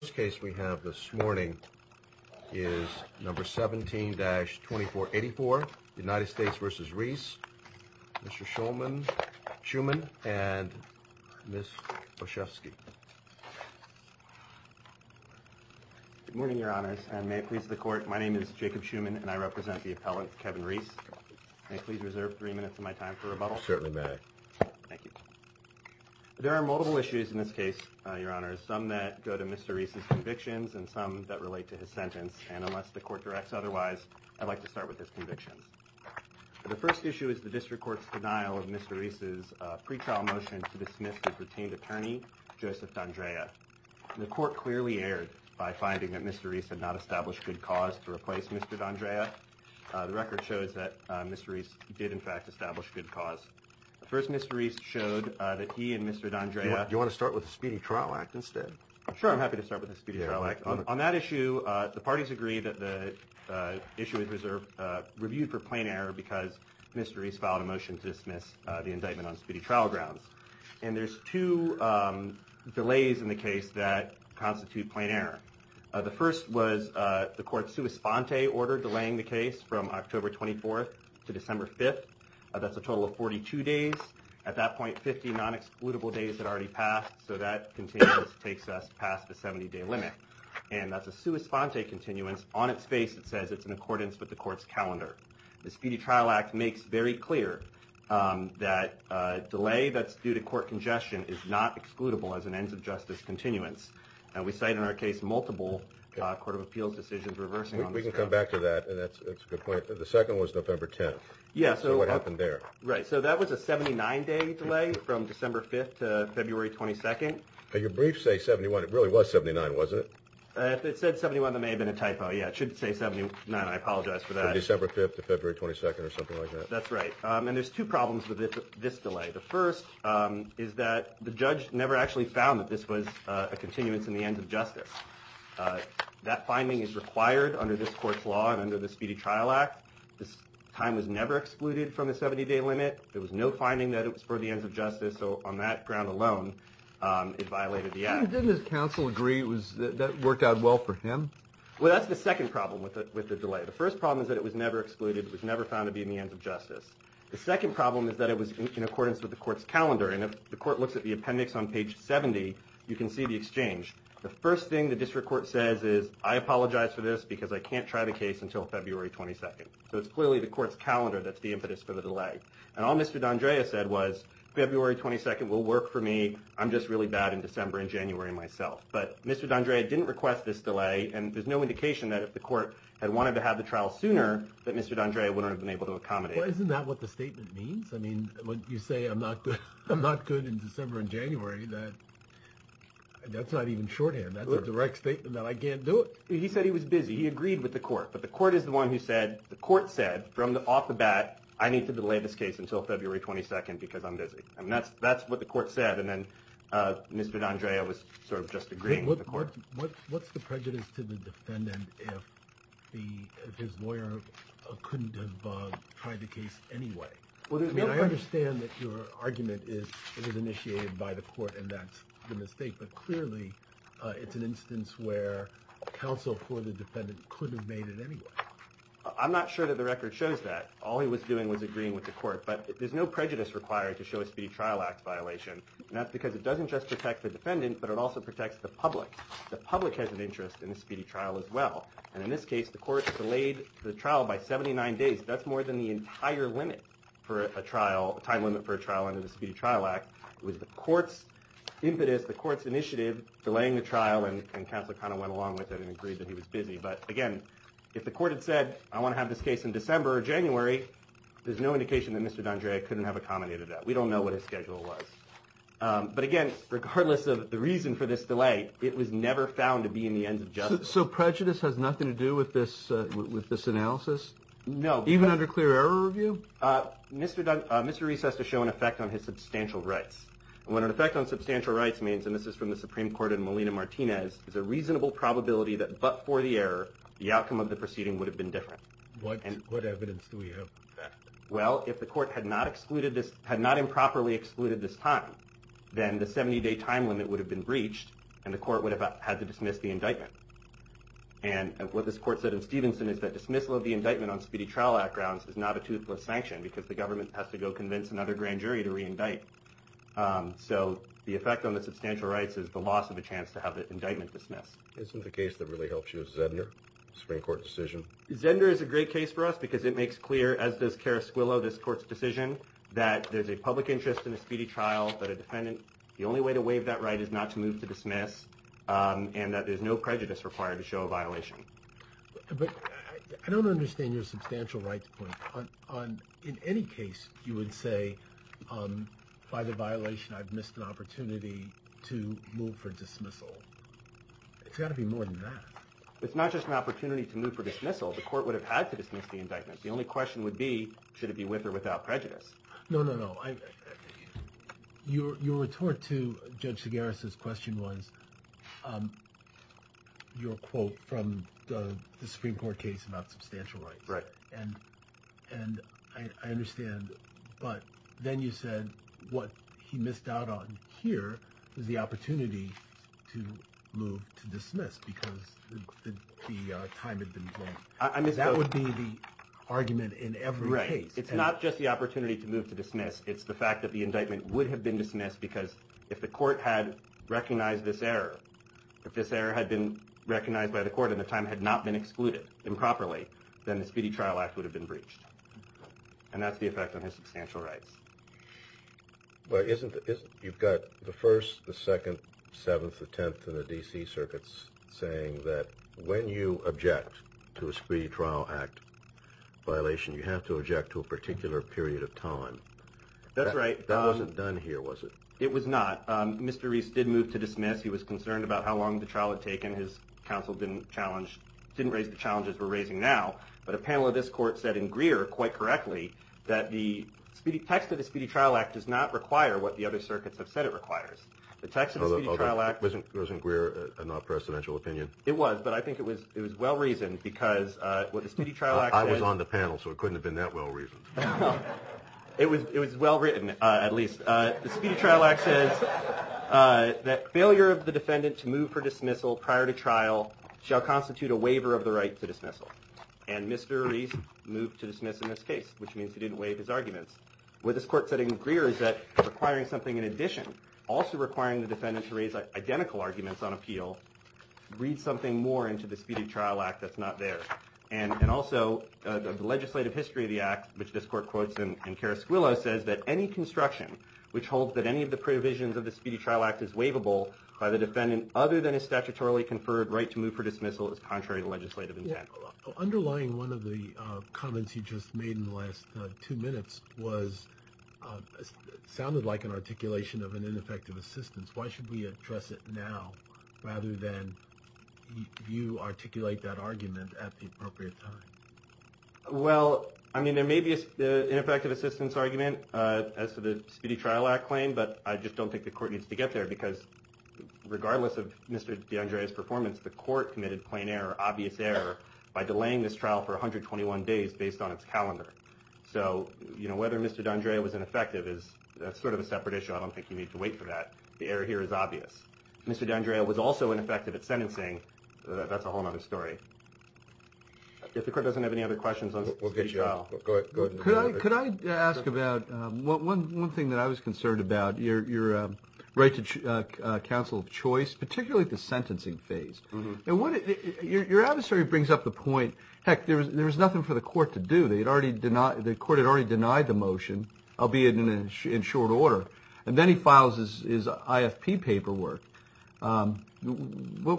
This case we have this morning is number 17-2484, United States v. Reese, Mr. Shuman and Ms. Boshefsky. Good morning, Your Honors, and may it please the Court, my name is Jacob Shuman and I represent the appellant, Kevin Reese. May I please reserve three minutes of my time for rebuttal? Certainly may. Thank you. There are multiple issues in this case, Your Honors, some that go to Mr. Reese's convictions and some that relate to his sentence, and unless the Court directs otherwise, I'd like to start with his convictions. The first issue is the District Court's denial of Mr. Reese's pretrial motion to dismiss his retained attorney, Joseph D'Andrea. The Court clearly erred by finding that Mr. Reese had not established good cause to replace Mr. D'Andrea. The record shows that Mr. Reese did in fact establish good cause. First, Mr. Reese showed that he and Mr. D'Andrea- Do you want to start with the Speedy Trial Act instead? Sure, I'm happy to start with the Speedy Trial Act. On that issue, the parties agree that the issue is reviewed for plain error because Mr. Reese filed a motion to dismiss the indictment on speedy trial grounds. And there's two delays in the case that constitute plain error. The first was the Court's sua sponte order delaying the case from October 24th to December 5th. That's a total of 42 days. At that point, 50 non-excludable days had already passed, so that continues, takes us past the 70-day limit. And that's a sua sponte continuance. On its face, it says it's in accordance with the Court's calendar. The Speedy Trial Act makes very clear that delay that's due to court congestion is not excludable as an ends of justice continuance. And we cite in our case multiple Court of Appeals decisions reversing on this- We can come back to that, and that's a good point. The second was November 10th. Yeah, so- So what happened there? Right, so that was a 79-day delay from December 5th to February 22nd. Your briefs say 71. It really was 79, wasn't it? If it said 71, there may have been a typo. Yeah, it should say 79. I apologize for that. December 5th to February 22nd or something like that. That's right. And there's two problems with this delay. The first is that the judge never actually found that this was a continuance in the ends of justice. That finding is required under this Court's law and under the Speedy Trial Act. This time was never excluded from the 70-day limit. There was no finding that it was for the ends of justice. So on that ground alone, it violated the act. Didn't his counsel agree that that worked out well for him? Well, that's the second problem with the delay. The first problem is that it was never excluded. It was never found to be in the ends of justice. The second problem is that it was in accordance with the Court's calendar. And if the Court looks at the appendix on page 70, you can see the exchange. The first thing the district court says is, I apologize for this because I can't try the case until February 22nd. So it's clearly the Court's calendar that's the impetus for the delay. And all Mr. D'Andrea said was, February 22nd will work for me. I'm just really bad in December and January myself. But Mr. D'Andrea didn't request this delay, and there's no indication that if the Court had wanted to have the trial sooner, that Mr. D'Andrea wouldn't have been able to accommodate it. Well, isn't that what the statement means? I mean, when you say I'm not good in December and January, that's not even shorthand. That's a direct statement that I can't do it. He said he was busy. He agreed with the Court. But the Court is the one who said, the Court said from off the bat, I need to delay this case until February 22nd because I'm busy. I mean, that's what the Court said. And then Mr. D'Andrea was sort of just agreeing with the Court. What's the prejudice to the defendant if his lawyer couldn't have tried the case anyway? I mean, I understand that your argument is it was initiated by the Court and that's the mistake, but clearly it's an instance where counsel for the defendant couldn't have made it anyway. I'm not sure that the record shows that. All he was doing was agreeing with the Court. But there's no prejudice required to show a speedy trial act violation, and that's because it doesn't just protect the defendant, but it also protects the public. The public has an interest in a speedy trial as well. And in this case, the Court delayed the trial by 79 days. That's more than the entire time limit for a trial under the Speedy Trial Act. It was the Court's impetus, the Court's initiative delaying the trial, and counsel kind of went along with it and agreed that he was busy. But again, if the Court had said, I want to have this case in December or January, there's no indication that Mr. D'Andrea couldn't have accommodated that. We don't know what his schedule was. But again, regardless of the reason for this delay, it was never found to be in the ends of justice. So prejudice has nothing to do with this analysis? No. Even under clear error review? Mr. Reese has to show an effect on his substantial rights. And what an effect on substantial rights means, and this is from the Supreme Court in Molina-Martinez, is a reasonable probability that but for the error, the outcome of the proceeding would have been different. What evidence do we have? Well, if the Court had not improperly excluded this time, then the 70-day time limit would have been breached and the Court would have had to dismiss the indictment. And what this Court said in Stevenson is that dismissal of the indictment on Speedy Trial Act grounds is not a toothless sanction because the government has to go convince another grand jury to re-indict. So the effect on the substantial rights is the loss of a chance to have the indictment dismissed. Isn't the case that really helps you Zedner, Supreme Court decision? Zedner is a great case for us because it makes clear, as does Carasquillo, this Court's decision, that there's a public interest in a speedy trial, that a defendant, the only way to waive that right is not to move to dismiss, and that there's no prejudice required to show a violation. But I don't understand your substantial rights point. In any case, you would say, by the violation, I've missed an opportunity to move for dismissal. It's got to be more than that. It's not just an opportunity to move for dismissal. The Court would have had to dismiss the indictment. The only question would be, should it be with or without prejudice? No, no, no. Your retort to Judge Segarra's question was your quote from the Supreme Court case about substantial rights. Right. And I understand, but then you said what he missed out on here was the opportunity to move to dismiss because the time had been drawn. That would be the argument in every case. Right. It's not just the opportunity to move to dismiss. It's the fact that the indictment would have been dismissed because if the Court had recognized this error, if this error had been recognized by the Court and the time had not been excluded improperly, then the Speedy Trial Act would have been breached. And that's the effect on his substantial rights. But you've got the 1st, the 2nd, 7th, the 10th, and the D.C. circuits saying that when you object to a Speedy Trial Act violation, you have to object to a particular period of time. That's right. That wasn't done here, was it? It was not. Mr. Reese did move to dismiss. He was concerned about how long the trial had taken. His counsel didn't raise the challenges we're raising now. But a panel of this Court said in Greer, quite correctly, that the text of the Speedy Trial Act does not require what the other circuits have said it requires. The text of the Speedy Trial Act... Wasn't Greer a non-presidential opinion? It was, but I think it was well-reasoned because what the Speedy Trial Act says... I was on the panel, so it couldn't have been that well-reasoned. It was well-written, at least. The Speedy Trial Act says that failure of the defendant to move for dismissal prior to trial shall constitute a waiver of the right to dismissal. And Mr. Reese moved to dismiss in this case, which means he didn't waive his arguments. What this Court said in Greer is that requiring something in addition, also requiring the defendant to raise identical arguments on appeal, reads something more into the Speedy Trial Act that's not there. And also, the legislative history of the Act, which this Court quotes in Carasquillo, says that any construction which holds that any of the provisions of the Speedy Trial Act is waivable by the defendant other than a statutorily conferred right to move for dismissal is contrary to legislative intent. Underlying one of the comments you just made in the last two minutes sounded like an articulation of an ineffective assistance. Why should we address it now rather than you articulate that argument at the appropriate time? Well, I mean, there may be an ineffective assistance argument as to the Speedy Trial Act claim, but I just don't think the Court needs to get there because regardless of Mr. D'Andrea's performance, the Court committed plain error, obvious error, by delaying this trial for 121 days based on its calendar. So, you know, whether Mr. D'Andrea was ineffective is sort of a separate issue. I don't think you need to wait for that. The error here is obvious. If Mr. D'Andrea was also ineffective at sentencing, that's a whole other story. If the Court doesn't have any other questions on Speedy Trial. Could I ask about one thing that I was concerned about, your right to counsel of choice, particularly at the sentencing phase. Your adversary brings up the point, heck, there was nothing for the Court to do. The Court had already denied the motion, albeit in short order, and then he files his IFP paperwork. What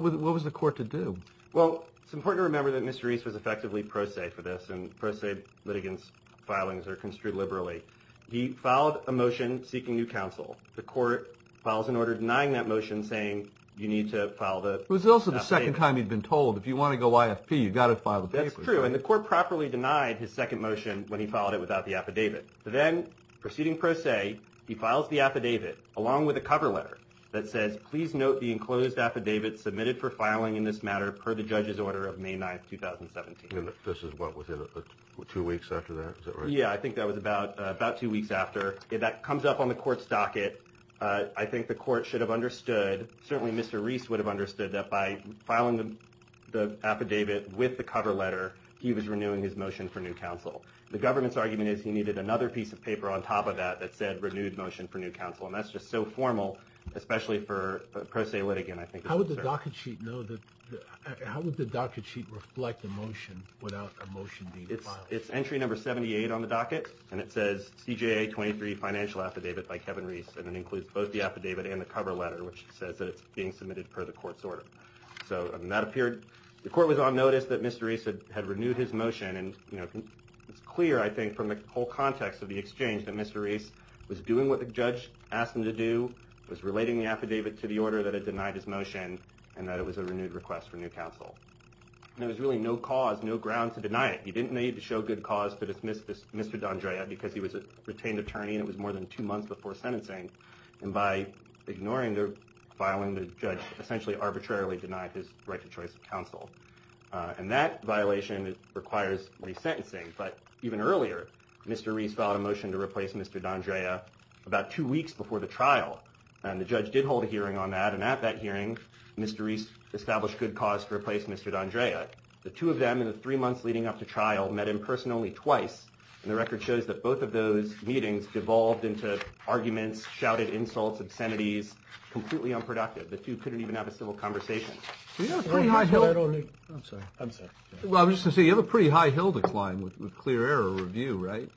was the Court to do? Well, it's important to remember that Mr. Reese was effectively pro se for this, and pro se litigants' filings are construed liberally. He filed a motion seeking new counsel. The Court files an order denying that motion, saying you need to file the affidavit. It was also the second time he'd been told, if you want to go IFP, you've got to file the paperwork. That's true, and the Court properly denied his second motion when he filed it without the affidavit. Then, proceeding pro se, he files the affidavit along with a cover letter that says, please note the enclosed affidavit submitted for filing in this matter per the judge's order of May 9, 2017. And this is what, within two weeks after that? Is that right? Yeah, I think that was about two weeks after. That comes up on the Court's docket. I think the Court should have understood, certainly Mr. Reese would have understood, that by filing the affidavit with the cover letter, he was renewing his motion for new counsel. The government's argument is he needed another piece of paper on top of that that said renewed motion for new counsel. And that's just so formal, especially for pro se litigant, I think. How would the docket sheet reflect the motion without a motion being filed? It's entry number 78 on the docket, and it says, CJA 23 financial affidavit by Kevin Reese, and it includes both the affidavit and the cover letter, which says that it's being submitted per the Court's order. The Court was on notice that Mr. Reese had renewed his motion, and it's clear, I think, from the whole context of the exchange, that Mr. Reese was doing what the judge asked him to do, was relating the affidavit to the order that had denied his motion, and that it was a renewed request for new counsel. And there was really no cause, no ground to deny it. He didn't need to show good cause to dismiss Mr. D'Andrea because he was a retained attorney, and it was more than two months before sentencing. And by ignoring the filing, the judge essentially arbitrarily denied his right to choice of counsel. And that violation requires resentencing. But even earlier, Mr. Reese filed a motion to replace Mr. D'Andrea about two weeks before the trial, and the judge did hold a hearing on that. And at that hearing, Mr. Reese established good cause to replace Mr. D'Andrea. The two of them in the three months leading up to trial met in person only twice, and the record shows that both of those meetings devolved into arguments, shouted insults, obscenities, completely unproductive. The two couldn't even have a civil conversation. I'm sorry. I'm sorry. Well, I was just going to say, you have a pretty high hill to climb with clear air or review, right?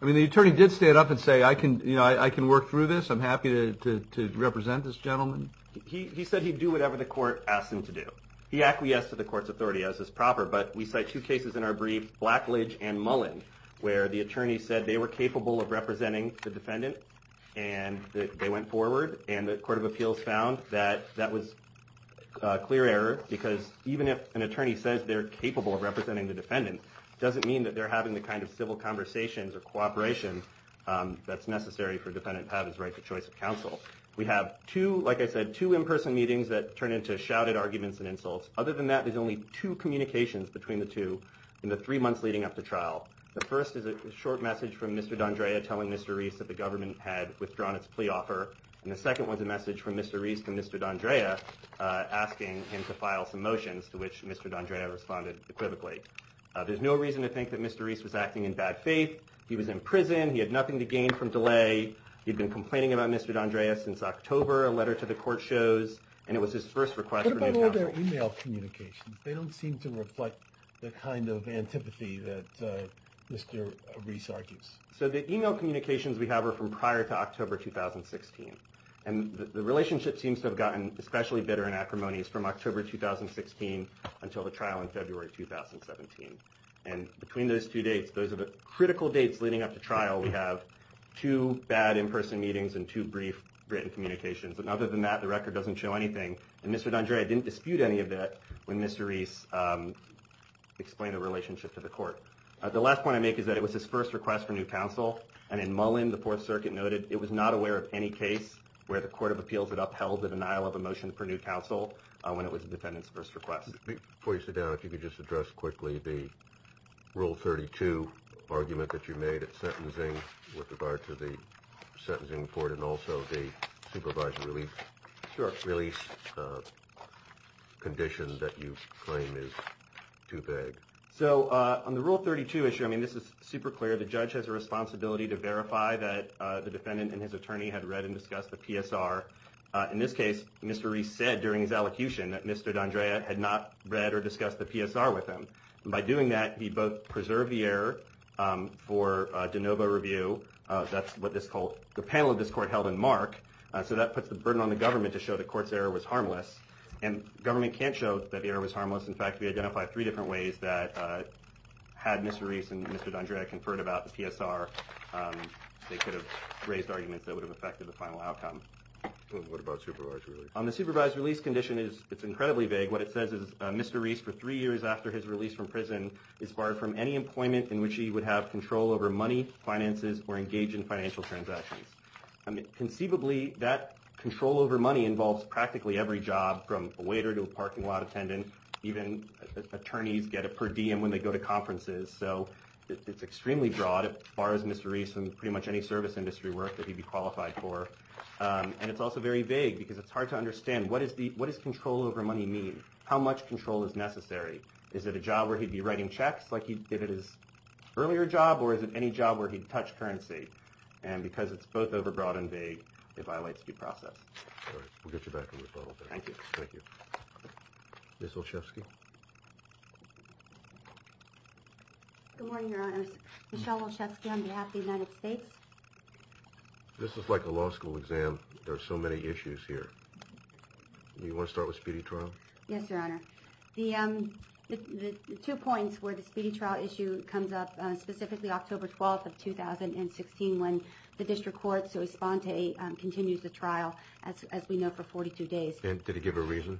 I mean, the attorney did stand up and say, you know, I can work through this. I'm happy to represent this gentleman. He said he'd do whatever the court asked him to do. He acquiesced to the court's authority as is proper, but we cite two cases in our brief, Blackledge and Mullin, where the attorney said they were capable of representing the defendant, and they went forward and the court of appeals found that that was clear error because even if an attorney says they're capable of representing the defendant, it doesn't mean that they're having the kind of civil conversations or cooperation that's necessary for a defendant to have his right to choice of counsel. We have two, like I said, two in-person meetings that turn into shouted arguments and insults. Other than that, there's only two communications between the two in the three months leading up to trial. The first is a short message from Mr. D'Andrea telling Mr. Reese that the government had withdrawn its plea offer, and the second was a message from Mr. Reese to Mr. D'Andrea asking him to file some motions, to which Mr. D'Andrea responded equivocally. There's no reason to think that Mr. Reese was acting in bad faith. He was in prison. He had nothing to gain from delay. He'd been complaining about Mr. D'Andrea since October, a letter to the court shows, and it was his first request for new counsel. They don't seem to reflect the kind of antipathy that Mr. Reese argues. So the email communications we have are from prior to October 2016, and the relationship seems to have gotten especially bitter in acrimonies from October 2016 until the trial in February 2017, and between those two dates, those are the critical dates leading up to trial. We have two bad in-person meetings and two brief written communications, and other than that, the record doesn't show anything, and Mr. D'Andrea didn't dispute any of that when Mr. Reese explained the relationship to the court. The last point I make is that it was his first request for new counsel, and in Mullen, the Fourth Circuit noted it was not aware of any case where the Court of Appeals had upheld the denial of a motion for new counsel when it was the defendant's first request. Before you sit down, if you could just address quickly the Rule 32 argument that you made with regard to the sentencing report and also the supervised release condition that you claim is too vague. So on the Rule 32 issue, I mean, this is super clear. The judge has a responsibility to verify that the defendant and his attorney had read and discussed the PSR. In this case, Mr. Reese said during his elocution that Mr. D'Andrea had not read or discussed the PSR with him. By doing that, he both preserved the error for de novo review. That's what the panel of this court held in Mark. So that puts the burden on the government to show the court's error was harmless, and the government can't show that the error was harmless. In fact, we identified three different ways that had Mr. Reese and Mr. D'Andrea conferred about the PSR, they could have raised arguments that would have affected the final outcome. What about supervised release? On the supervised release condition, it's incredibly vague. What it says is Mr. Reese, for three years after his release from prison, is barred from any employment in which he would have control over money, finances, or engage in financial transactions. Conceivably, that control over money involves practically every job, from a waiter to a parking lot attendant. Even attorneys get it per diem when they go to conferences. So it's extremely broad. It bars Mr. Reese from pretty much any service industry work that he'd be qualified for. And it's also very vague because it's hard to understand. What does control over money mean? How much control is necessary? Is it a job where he'd be writing checks like he did at his earlier job, or is it any job where he'd touch currency? And because it's both overbroad and vague, it violates due process. All right, we'll get you back on the phone. Thank you. Thank you. Ms. Olszewski? Good morning, Your Honors. Michelle Olszewski on behalf of the United States. This is like a law school exam. There are so many issues here. Do you want to start with Speedy Trial? Yes, Your Honor. The two points where the Speedy Trial issue comes up, specifically October 12th of 2016, when the district court, so Esponte, continues the trial, as we know, for 42 days. And did he give a reason?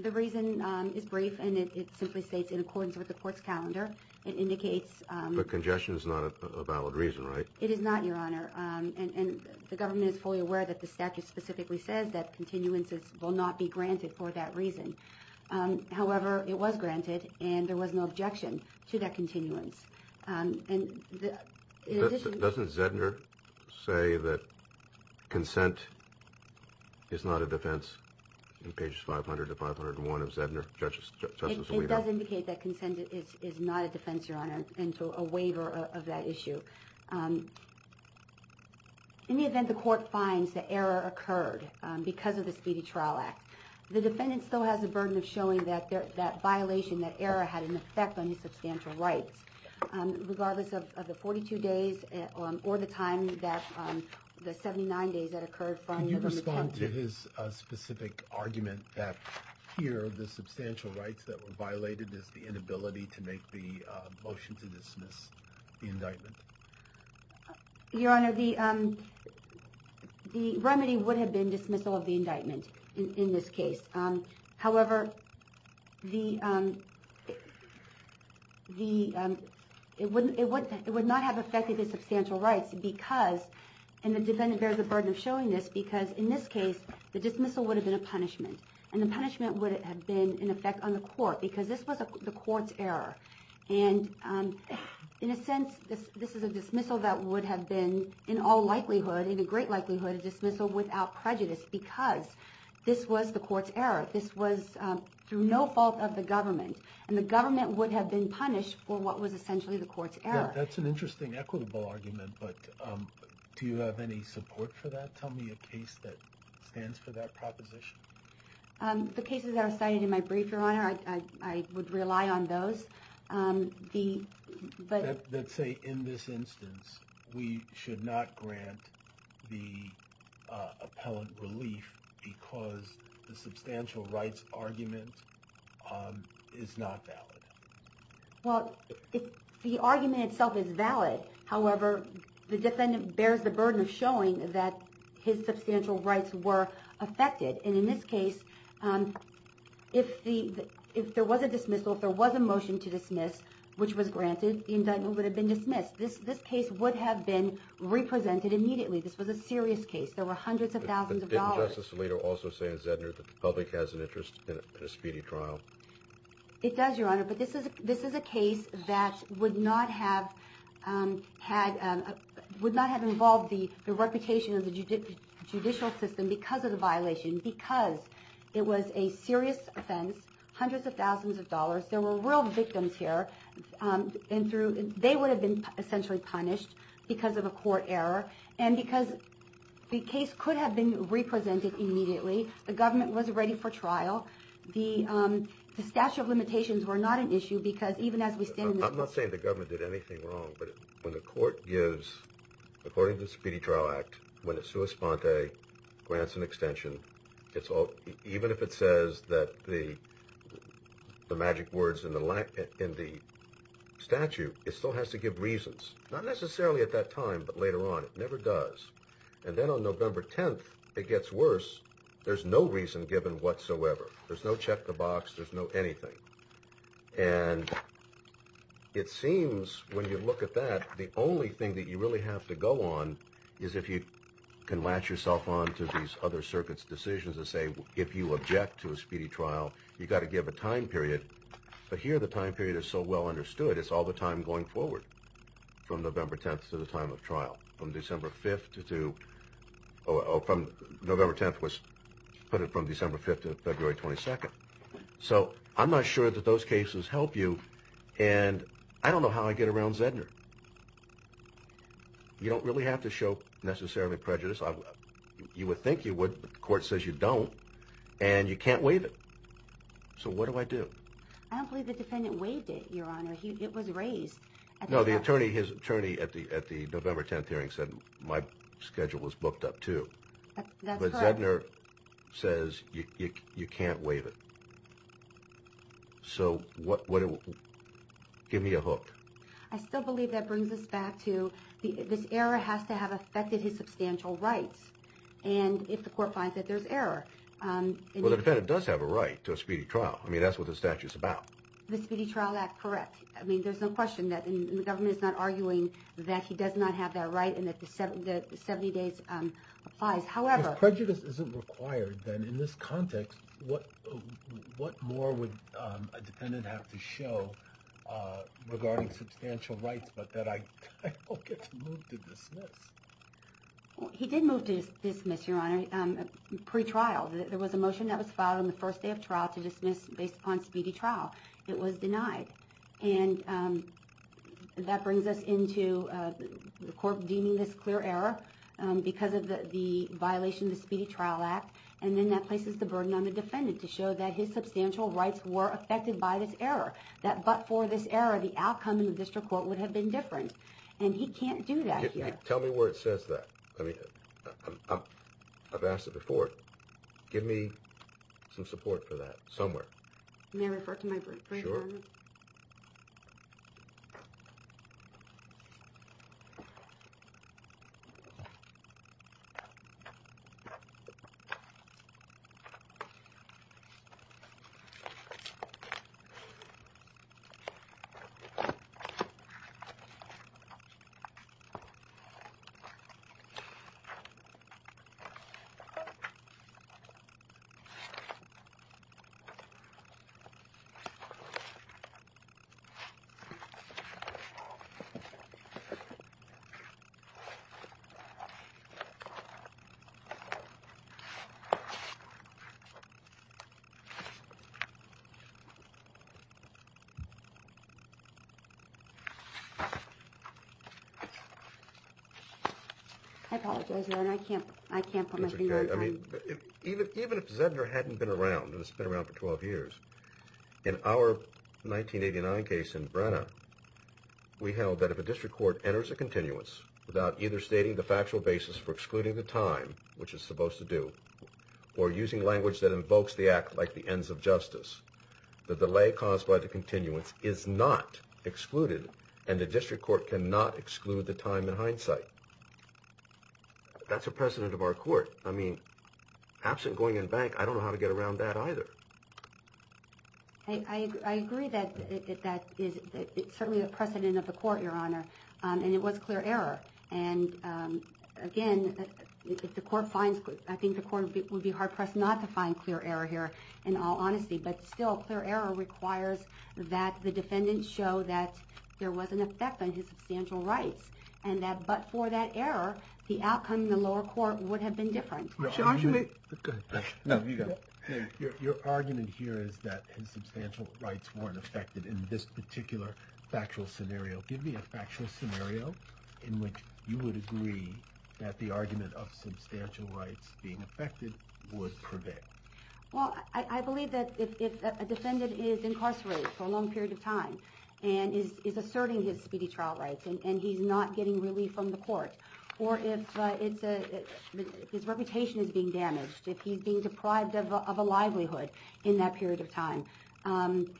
The reason is brief, and it simply states in accordance with the court's calendar. It indicates... But congestion is not a valid reason, right? It is not, Your Honor. And the government is fully aware that the statute specifically says that continuances will not be granted for that reason. However, it was granted, and there was no objection to that continuance. And in addition... Doesn't Zedner say that consent is not a defense in pages 500 to 501 of Zedner, Justice Alito? It does indicate that consent is not a defense, Your Honor, and so a waiver of that issue. In the event the court finds that error occurred because of the Speedy Trial Act, the defendant still has the burden of showing that violation, that error, had an effect on his substantial rights, regardless of the 42 days or the time, the 79 days that occurred from the... Can you respond to his specific argument that here, one of the substantial rights that were violated is the inability to make the motion to dismiss the indictment? Your Honor, the remedy would have been dismissal of the indictment in this case. However, it would not have affected his substantial rights because... And the defendant bears the burden of showing this because, in this case, the dismissal would have been a punishment, and the punishment would have been an effect on the court because this was the court's error. And in a sense, this is a dismissal that would have been, in all likelihood, in a great likelihood, a dismissal without prejudice because this was the court's error. This was through no fault of the government, and the government would have been punished for what was essentially the court's error. That's an interesting, equitable argument, but do you have any support for that? Tell me a case that stands for that proposition. The cases that are cited in my brief, Your Honor, I would rely on those. Let's say, in this instance, we should not grant the appellant relief because the substantial rights argument is not valid. Well, the argument itself is valid. However, the defendant bears the burden of showing that his substantial rights were affected. And in this case, if there was a dismissal, if there was a motion to dismiss, which was granted, the indictment would have been dismissed. This case would have been represented immediately. This was a serious case. There were hundreds of thousands of dollars. Didn't Justice Alito also say in Zedner that the public has an interest in a speedy trial? It does, Your Honor, but this is a case that would not have involved the reputation of the judicial system because of the violation, because it was a serious offense, hundreds of thousands of dollars. There were real victims here, and they would have been essentially punished because of a court error. And because the case could have been represented immediately, the government was ready for trial. The statute of limitations were not an issue because even as we stand in this court... I'm not saying the government did anything wrong, but when the court gives, according to the Speedy Trial Act, when it sua sponte, grants an extension, even if it says that the magic words in the statute, it still has to give reasons, not necessarily at that time, but later on. It never does. And then on November 10th, it gets worse. There's no reason given whatsoever. There's no check the box. There's no anything. And it seems when you look at that, the only thing that you really have to go on is if you can latch yourself on to these other circuits' decisions and say if you object to a speedy trial, you've got to give a time period. But here the time period is so well understood, it's all the time going forward from November 10th to the time of trial, from December 5th to February 22nd. So I'm not sure that those cases help you, and I don't know how I get around Zedner. You don't really have to show necessarily prejudice. You would think you would, but the court says you don't, and you can't waive it. So what do I do? I don't believe the defendant waived it, Your Honor. It was raised. No, the attorney, his attorney at the November 10th hearing said my schedule was booked up too. That's correct. But Zedner says you can't waive it. So give me a hook. I still believe that brings us back to this error has to have affected his substantial rights, and if the court finds that there's error. Well, the defendant does have a right to a speedy trial. I mean, that's what the statute's about. The Speedy Trial Act, correct. I mean, there's no question that the government is not arguing that he does not have that right and that the 70 days applies. If prejudice isn't required, then in this context, what more would a defendant have to show regarding substantial rights, but that I don't get to move to dismiss? He did move to dismiss, Your Honor, pre-trial. There was a motion that was filed on the first day of trial to dismiss based upon speedy trial. It was denied, and that brings us into the court deeming this clear error because of the violation of the Speedy Trial Act, and then that places the burden on the defendant to show that his substantial rights were affected by this error, that but for this error, the outcome in the district court would have been different, and he can't do that here. Tell me where it says that. I mean, I've asked it before. Give me some support for that somewhere. May I refer to my brief, Your Honor? Sure. I apologize, Your Honor. I can't put my finger on it. Even if Zedner hadn't been around, and he's been around for 12 years, in our 1989 case in Brenna, we held that if a district court enters a continuance without either stating the factual basis for excluding the time, which it's supposed to do, or using language that invokes the act like the ends of justice, the delay caused by the continuance is not excluded, and the district court cannot exclude the time in hindsight. That's a precedent of our court. I mean, absent going in bank, I don't know how to get around that either. I agree that that is certainly a precedent of the court, Your Honor, and it was clear error. And, again, if the court finds, I think the court would be hard-pressed not to find clear error here, in all honesty. But still, clear error requires that the defendant show that there was an effect on his substantial rights, but for that error, the outcome in the lower court would have been different. Your argument here is that his substantial rights weren't affected in this particular factual scenario. Give me a factual scenario in which you would agree that the argument of substantial rights being affected would prevail. Well, I believe that if a defendant is incarcerated for a long period of time and is asserting his speedy trial rights and he's not getting relief from the court, or if his reputation is being damaged, if he's being deprived of a livelihood in that period of time, and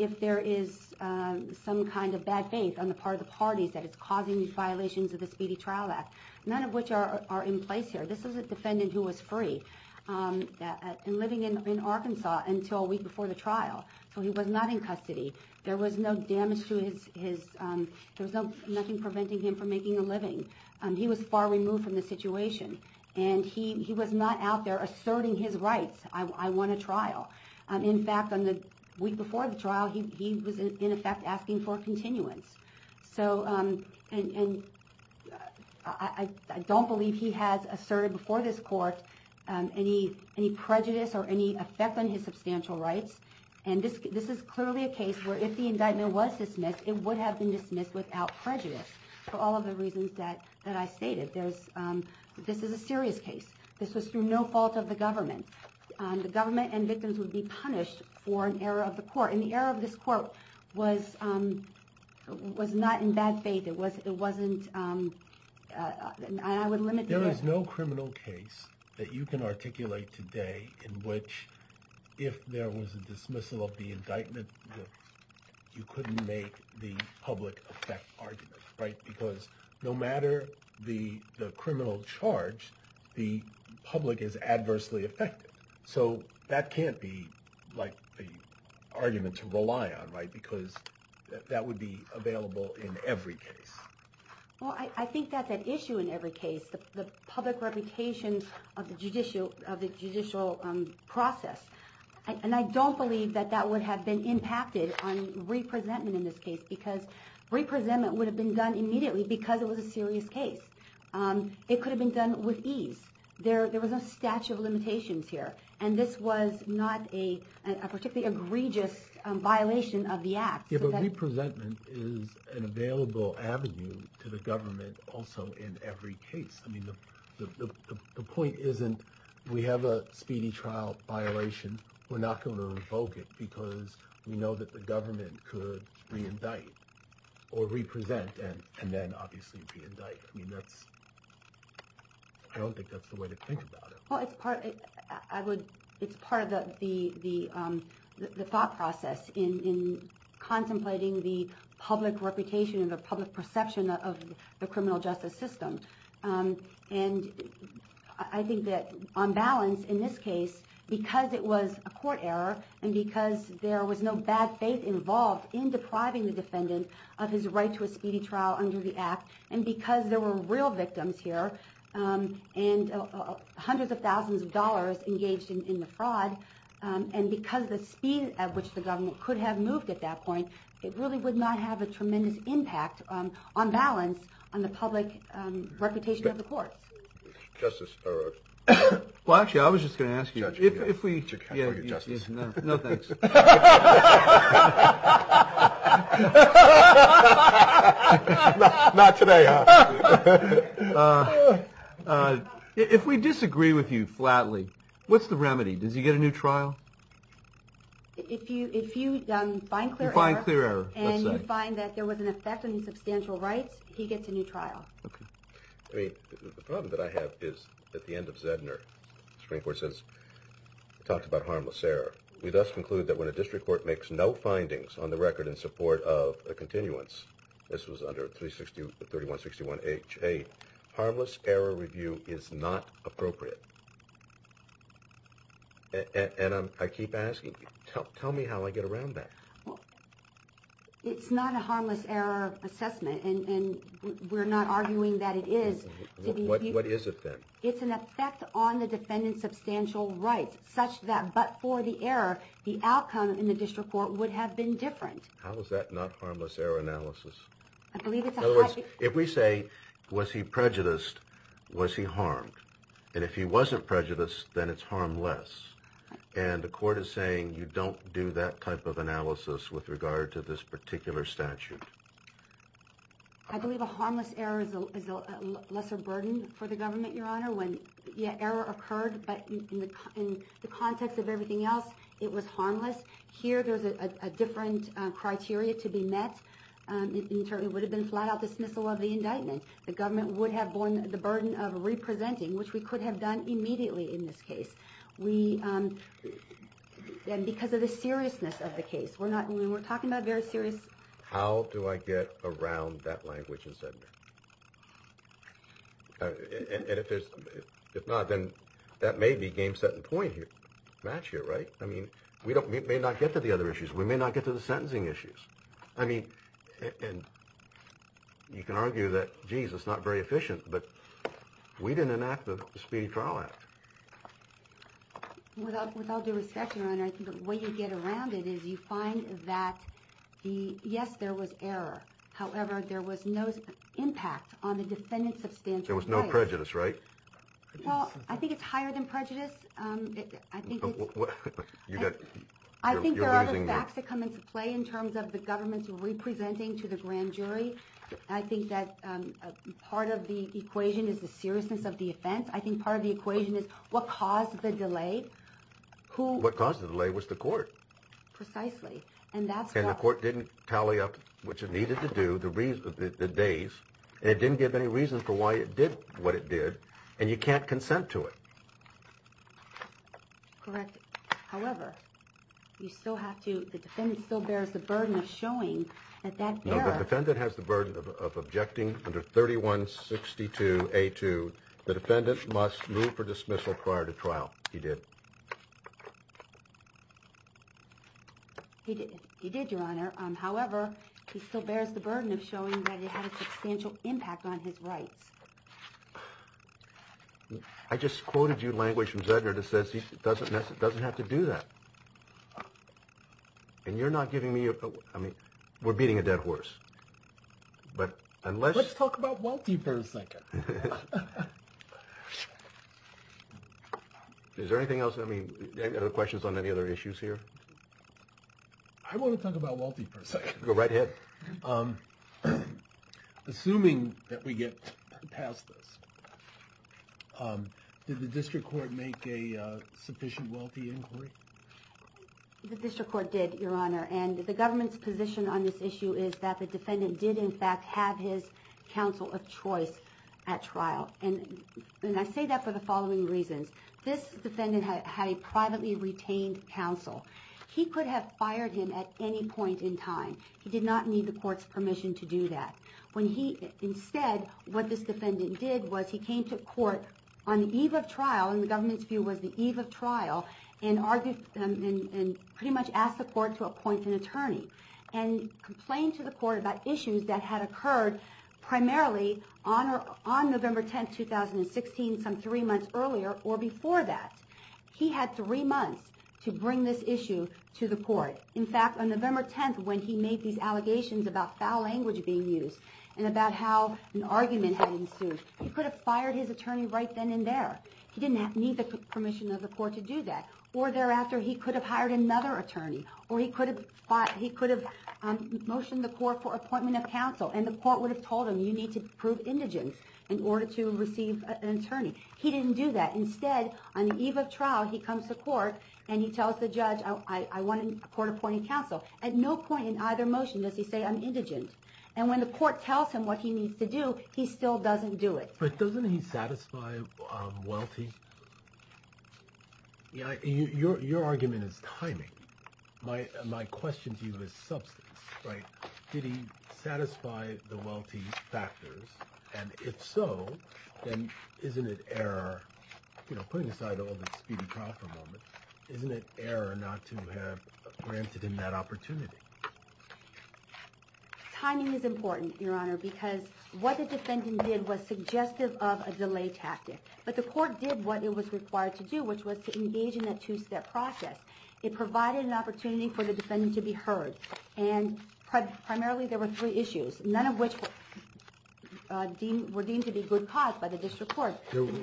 if there is some kind of bad faith on the part of the parties that is causing these violations of the Speedy Trial Act, none of which are in place here. This is a defendant who was free and living in Arkansas until a week before the trial, so he was not in custody. There was nothing preventing him from making a living. He was far removed from the situation, and he was not out there asserting his rights. I won a trial. In fact, the week before the trial, he was in effect asking for a continuance. I don't believe he has asserted before this court any prejudice or any effect on his substantial rights, and this is clearly a case where if the indictment was dismissed, it would have been dismissed without prejudice for all of the reasons that I stated. This is a serious case. This was through no fault of the government. The government and victims would be punished for an error of the court, and the error of this court was not in bad faith. It wasn't, and I would limit the... There's no criminal case that you can articulate today in which if there was a dismissal of the indictment, you couldn't make the public effect argument, right, because no matter the criminal charge, the public is adversely affected. So that can't be like the argument to rely on, right, because that would be available in every case. Well, I think that's an issue in every case, the public reputation of the judicial process, and I don't believe that that would have been impacted on re-presentment in this case because re-presentment would have been done immediately because it was a serious case. It could have been done with ease. There was no statute of limitations here, and this was not a particularly egregious violation of the act. Yeah, but re-presentment is an available avenue to the government also in every case. I mean, the point isn't we have a speedy trial violation. We're not going to revoke it because we know that the government could re-indict or re-present and then obviously re-indict. I mean, I don't think that's the way to think about it. Well, it's part of the thought process in contemplating the public reputation and the public perception of the criminal justice system. And I think that on balance in this case, because it was a court error and because there was no bad faith involved in depriving the defendant of his right to a speedy trial under the act and because there were real victims here and hundreds of thousands of dollars engaged in the fraud and because of the speed at which the government could have moved at that point, it really would not have a tremendous impact on balance on the public reputation of the courts. Justice, or... Well, actually, I was just going to ask you... Judge, you can't forget justice. No, thanks. Not today, huh? If we disagree with you flatly, what's the remedy? Does he get a new trial? If you find clear error and you find that there was an effect on his substantial rights, he gets a new trial. Okay. I mean, the problem that I have is at the end of Zedner, the Supreme Court says, it talks about harmless error. We thus conclude that when a district court makes no findings on the record in support of a continuance, this was under 3161HA, harmless error review is not appropriate. And I keep asking, tell me how I get around that. It's not a harmless error assessment, and we're not arguing that it is. What is it then? It's an effect on the defendant's substantial rights, such that but for the error, the outcome in the district court would have been different. How is that not harmless error analysis? In other words, if we say, was he prejudiced, was he harmed? And if he wasn't prejudiced, then it's harmless. And the court is saying you don't do that type of analysis with regard to this particular statute. I believe a harmless error is a lesser burden for the government, Your Honor. When the error occurred, but in the context of everything else, it was harmless. Here, there's a different criteria to be met. It would have been a flat-out dismissal of the indictment. The government would have borne the burden of representing, which we could have done immediately in this case. And because of the seriousness of the case. How do I get around that language in Seddon? And if not, then that may be game set in point here, match here, right? I mean, we may not get to the other issues. We may not get to the sentencing issues. I mean, you can argue that, geez, it's not very efficient, but we didn't enact the Speedy Trial Act. Without due respect, Your Honor, I think the way you get around it is you find that yes, there was error. However, there was no impact on the defendant's substantial case. There was no prejudice, right? Well, I think it's higher than prejudice. I think there are other facts that come into play in terms of the government's representing to the grand jury. I think that part of the equation is the seriousness of the offense. I think part of the equation is what caused the delay. What caused the delay was the court. Precisely. And the court didn't tally up what you needed to do, the days, and it didn't give any reason for why it did what it did, and you can't consent to it. Correct. However, you still have to, the defendant still bears the burden of showing that error. No, the defendant has the burden of objecting under 3162A2. The defendant must move for dismissal prior to trial. He did. He did, Your Honor. However, he still bears the burden of showing that it had a substantial impact on his rights. I just quoted you language from Zedner that says he doesn't have to do that. And you're not giving me a, I mean, we're beating a dead horse. Let's talk about wealthy for a second. Is there anything else? I mean, are there questions on any other issues here? I want to talk about wealthy for a second. Go right ahead. Assuming that we get past this, did the district court make a sufficient wealthy inquiry? The district court did, Your Honor, and the government's position on this issue is that the defendant did in fact have his counsel of choice at trial. And I say that for the following reasons. This defendant had a privately retained counsel. He could have fired him at any point in time. He did not need the court's permission to do that. Instead, what this defendant did was he came to court on the eve of trial, and the government's view was the eve of trial, and pretty much asked the court to appoint an attorney and complained to the court about issues that had occurred primarily on November 10th, 2016, some three months earlier or before that. He had three months to bring this issue to the court. In fact, on November 10th, when he made these allegations about foul language being used and about how an argument had ensued, he could have fired his attorney right then and there. He didn't need the permission of the court to do that. Or thereafter, he could have hired another attorney, or he could have motioned the court for appointment of counsel, and the court would have told him you need to prove indigent in order to receive an attorney. He didn't do that. Instead, on the eve of trial, he comes to court, and he tells the judge, I want a court-appointed counsel. At no point in either motion does he say, I'm indigent. And when the court tells him what he needs to do, he still doesn't do it. But doesn't he satisfy wealthy? Your argument is timing. My question to you is substance, right? Did he satisfy the wealthy factors? And if so, then isn't it error? You know, putting aside all the Speedy Crawford moments, isn't it error not to have granted him that opportunity? Timing is important, Your Honor, because what the defendant did was suggestive of a delay tactic. But the court did what it was required to do, which was to engage in that two-step process. It provided an opportunity for the defendant to be heard, and primarily there were three issues, none of which were deemed to be good cause by the district court.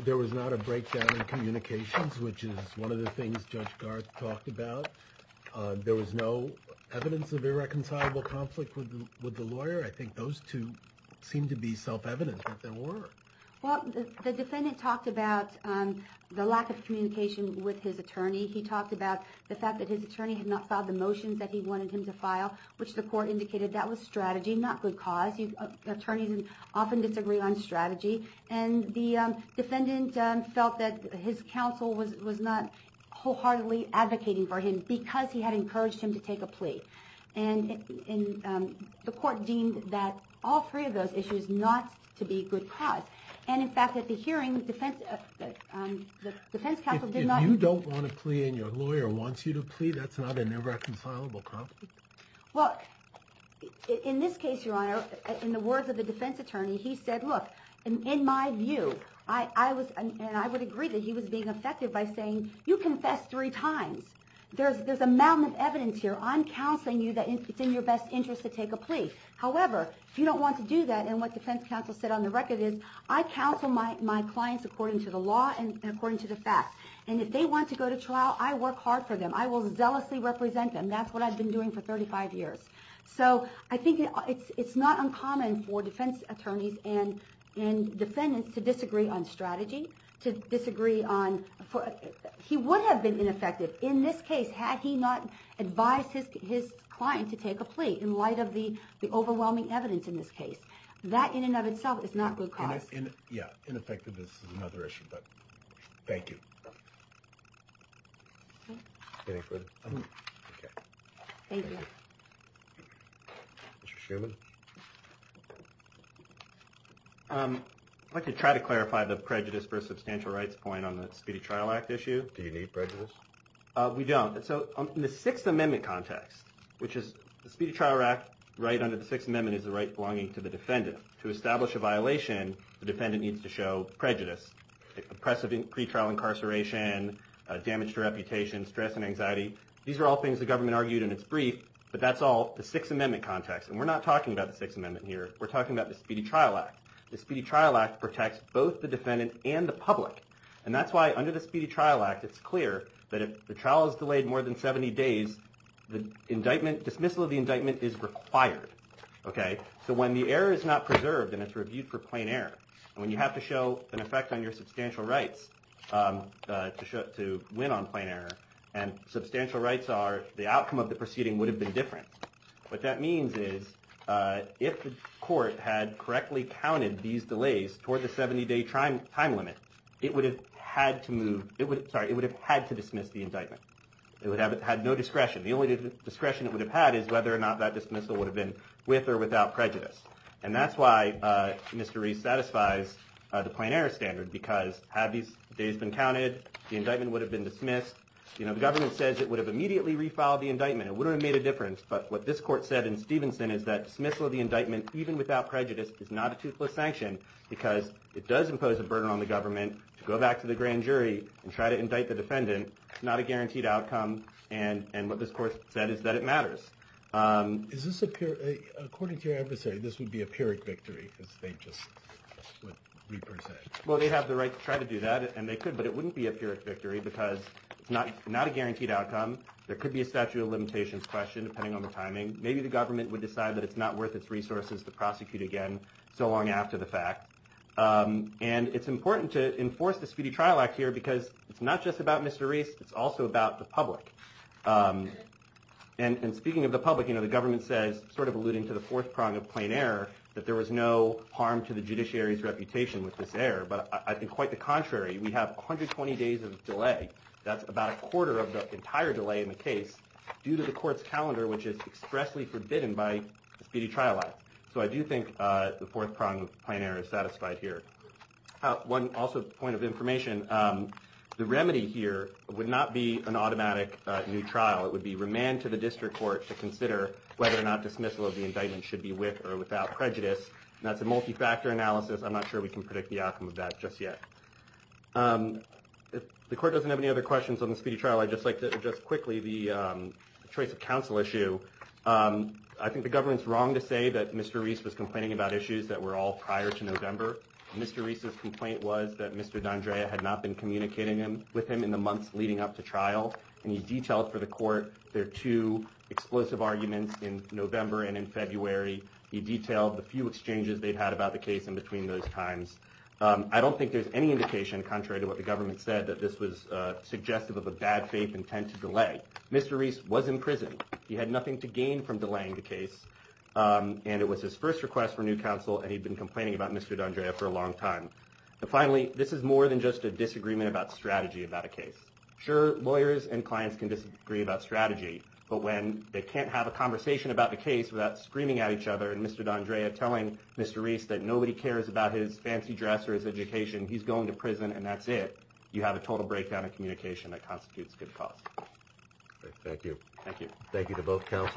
There was not a breakdown in communications, which is one of the things Judge Garth talked about. There was no evidence of irreconcilable conflict with the lawyer. I think those two seem to be self-evident that there were. Well, the defendant talked about the lack of communication with his attorney. He talked about the fact that his attorney had not filed the motions that he wanted him to file, which the court indicated that was strategy, not good cause. Attorneys often disagree on strategy. And the defendant felt that his counsel was not wholeheartedly advocating for him because he had encouraged him to take a plea. And the court deemed that all three of those issues not to be good cause. And, in fact, at the hearing, the defense counsel did not... If you don't want to plea and your lawyer wants you to plea, that's not an irreconcilable conflict. Well, in this case, Your Honor, in the words of the defense attorney, he said, look, in my view, and I would agree that he was being effective by saying, you confessed three times. There's a mountain of evidence here. I'm counseling you that it's in your best interest to take a plea. However, if you don't want to do that, and what defense counsel said on the record is, I counsel my clients according to the law and according to the facts. And if they want to go to trial, I work hard for them. I will zealously represent them. That's what I've been doing for 35 years. So I think it's not uncommon for defense attorneys and defendants to disagree on strategy, to disagree on... He would have been ineffective in this case had he not advised his client to take a plea in light of the overwhelming evidence in this case. That, in and of itself, is not good cause. Yeah, ineffectiveness is another issue, but thank you. Thank you. Mr. Shuman? I'd like to try to clarify the prejudice versus substantial rights point on the Speedy Trial Act issue. Do you need prejudice? We don't. So in the Sixth Amendment context, which is the Speedy Trial Act, right under the Sixth Amendment is the right belonging to the defendant. To establish a violation, the defendant needs to show prejudice, oppressive pretrial incarceration, damage to reputation, stress and anxiety. These are all things the government argued in its brief, but that's all the Sixth Amendment context. And we're not talking about the Sixth Amendment here. We're talking about the Speedy Trial Act. The Speedy Trial Act protects both the defendant and the public, and that's why under the Speedy Trial Act, it's clear that if the trial is delayed more than 70 days, the dismissal of the indictment is required. So when the error is not preserved and it's reviewed for plain error, and when you have to show an effect on your substantial rights to win on plain error, and substantial rights are the outcome of the proceeding would have been different. What that means is if the court had correctly counted these delays toward the 70-day time limit, it would have had to move – sorry, it would have had to dismiss the indictment. It would have had no discretion. The only discretion it would have had is whether or not that dismissal would have been with or without prejudice. And that's why Mr. Reese satisfies the plain error standard, because had these days been counted, the indictment would have been dismissed. The government says it would have immediately refiled the indictment. It would have made a difference. But what this court said in Stevenson is that dismissal of the indictment, even without prejudice, is not a toothless sanction, because it does impose a burden on the government to go back to the grand jury and try to indict the defendant. It's not a guaranteed outcome, and what this court said is that it matters. Is this a – according to your adversary, this would be a Pyrrhic victory, because they just – what Reaper said. Well, they have the right to try to do that, and they could, but it wouldn't be a Pyrrhic victory because it's not a guaranteed outcome. There could be a statute of limitations question, depending on the timing. Maybe the government would decide that it's not worth its resources to prosecute again so long after the fact. And it's important to enforce the Speedy Trial Act here, because it's not just about Mr. Reese. It's also about the public. And speaking of the public, you know, the government says, sort of alluding to the fourth prong of plain error, that there was no harm to the judiciary's reputation with this error. But I think quite the contrary. We have 120 days of delay. That's about a quarter of the entire delay in the case due to the court's calendar, which is expressly forbidden by the Speedy Trial Act. So I do think the fourth prong of plain error is satisfied here. One also point of information, the remedy here would not be an automatic new trial. It would be remand to the district court to consider whether or not dismissal of the indictment should be with or without prejudice, and that's a multi-factor analysis. I'm not sure we can predict the outcome of that just yet. If the court doesn't have any other questions on the speedy trial, I'd just like to address quickly the choice of counsel issue. I think the government's wrong to say that Mr. Reese was complaining about issues that were all prior to November. Mr. Reese's complaint was that Mr. D'Andrea had not been communicating with him in the months leading up to trial, and he detailed for the court their two explosive arguments in November and in February. He detailed the few exchanges they'd had about the case in between those times. I don't think there's any indication, contrary to what the government said, that this was suggestive of a bad faith intent to delay. Mr. Reese was in prison. He had nothing to gain from delaying the case, and it was his first request for new counsel, and he'd been complaining about Mr. D'Andrea for a long time. Finally, this is more than just a disagreement about strategy about a case. Sure, lawyers and clients can disagree about strategy, but when they can't have a conversation about the case without screaming at each other and Mr. D'Andrea telling Mr. Reese that nobody cares about his fancy dress or his education, he's going to prison and that's it, you have a total breakdown in communication that constitutes good cause. Thank you. Thank you.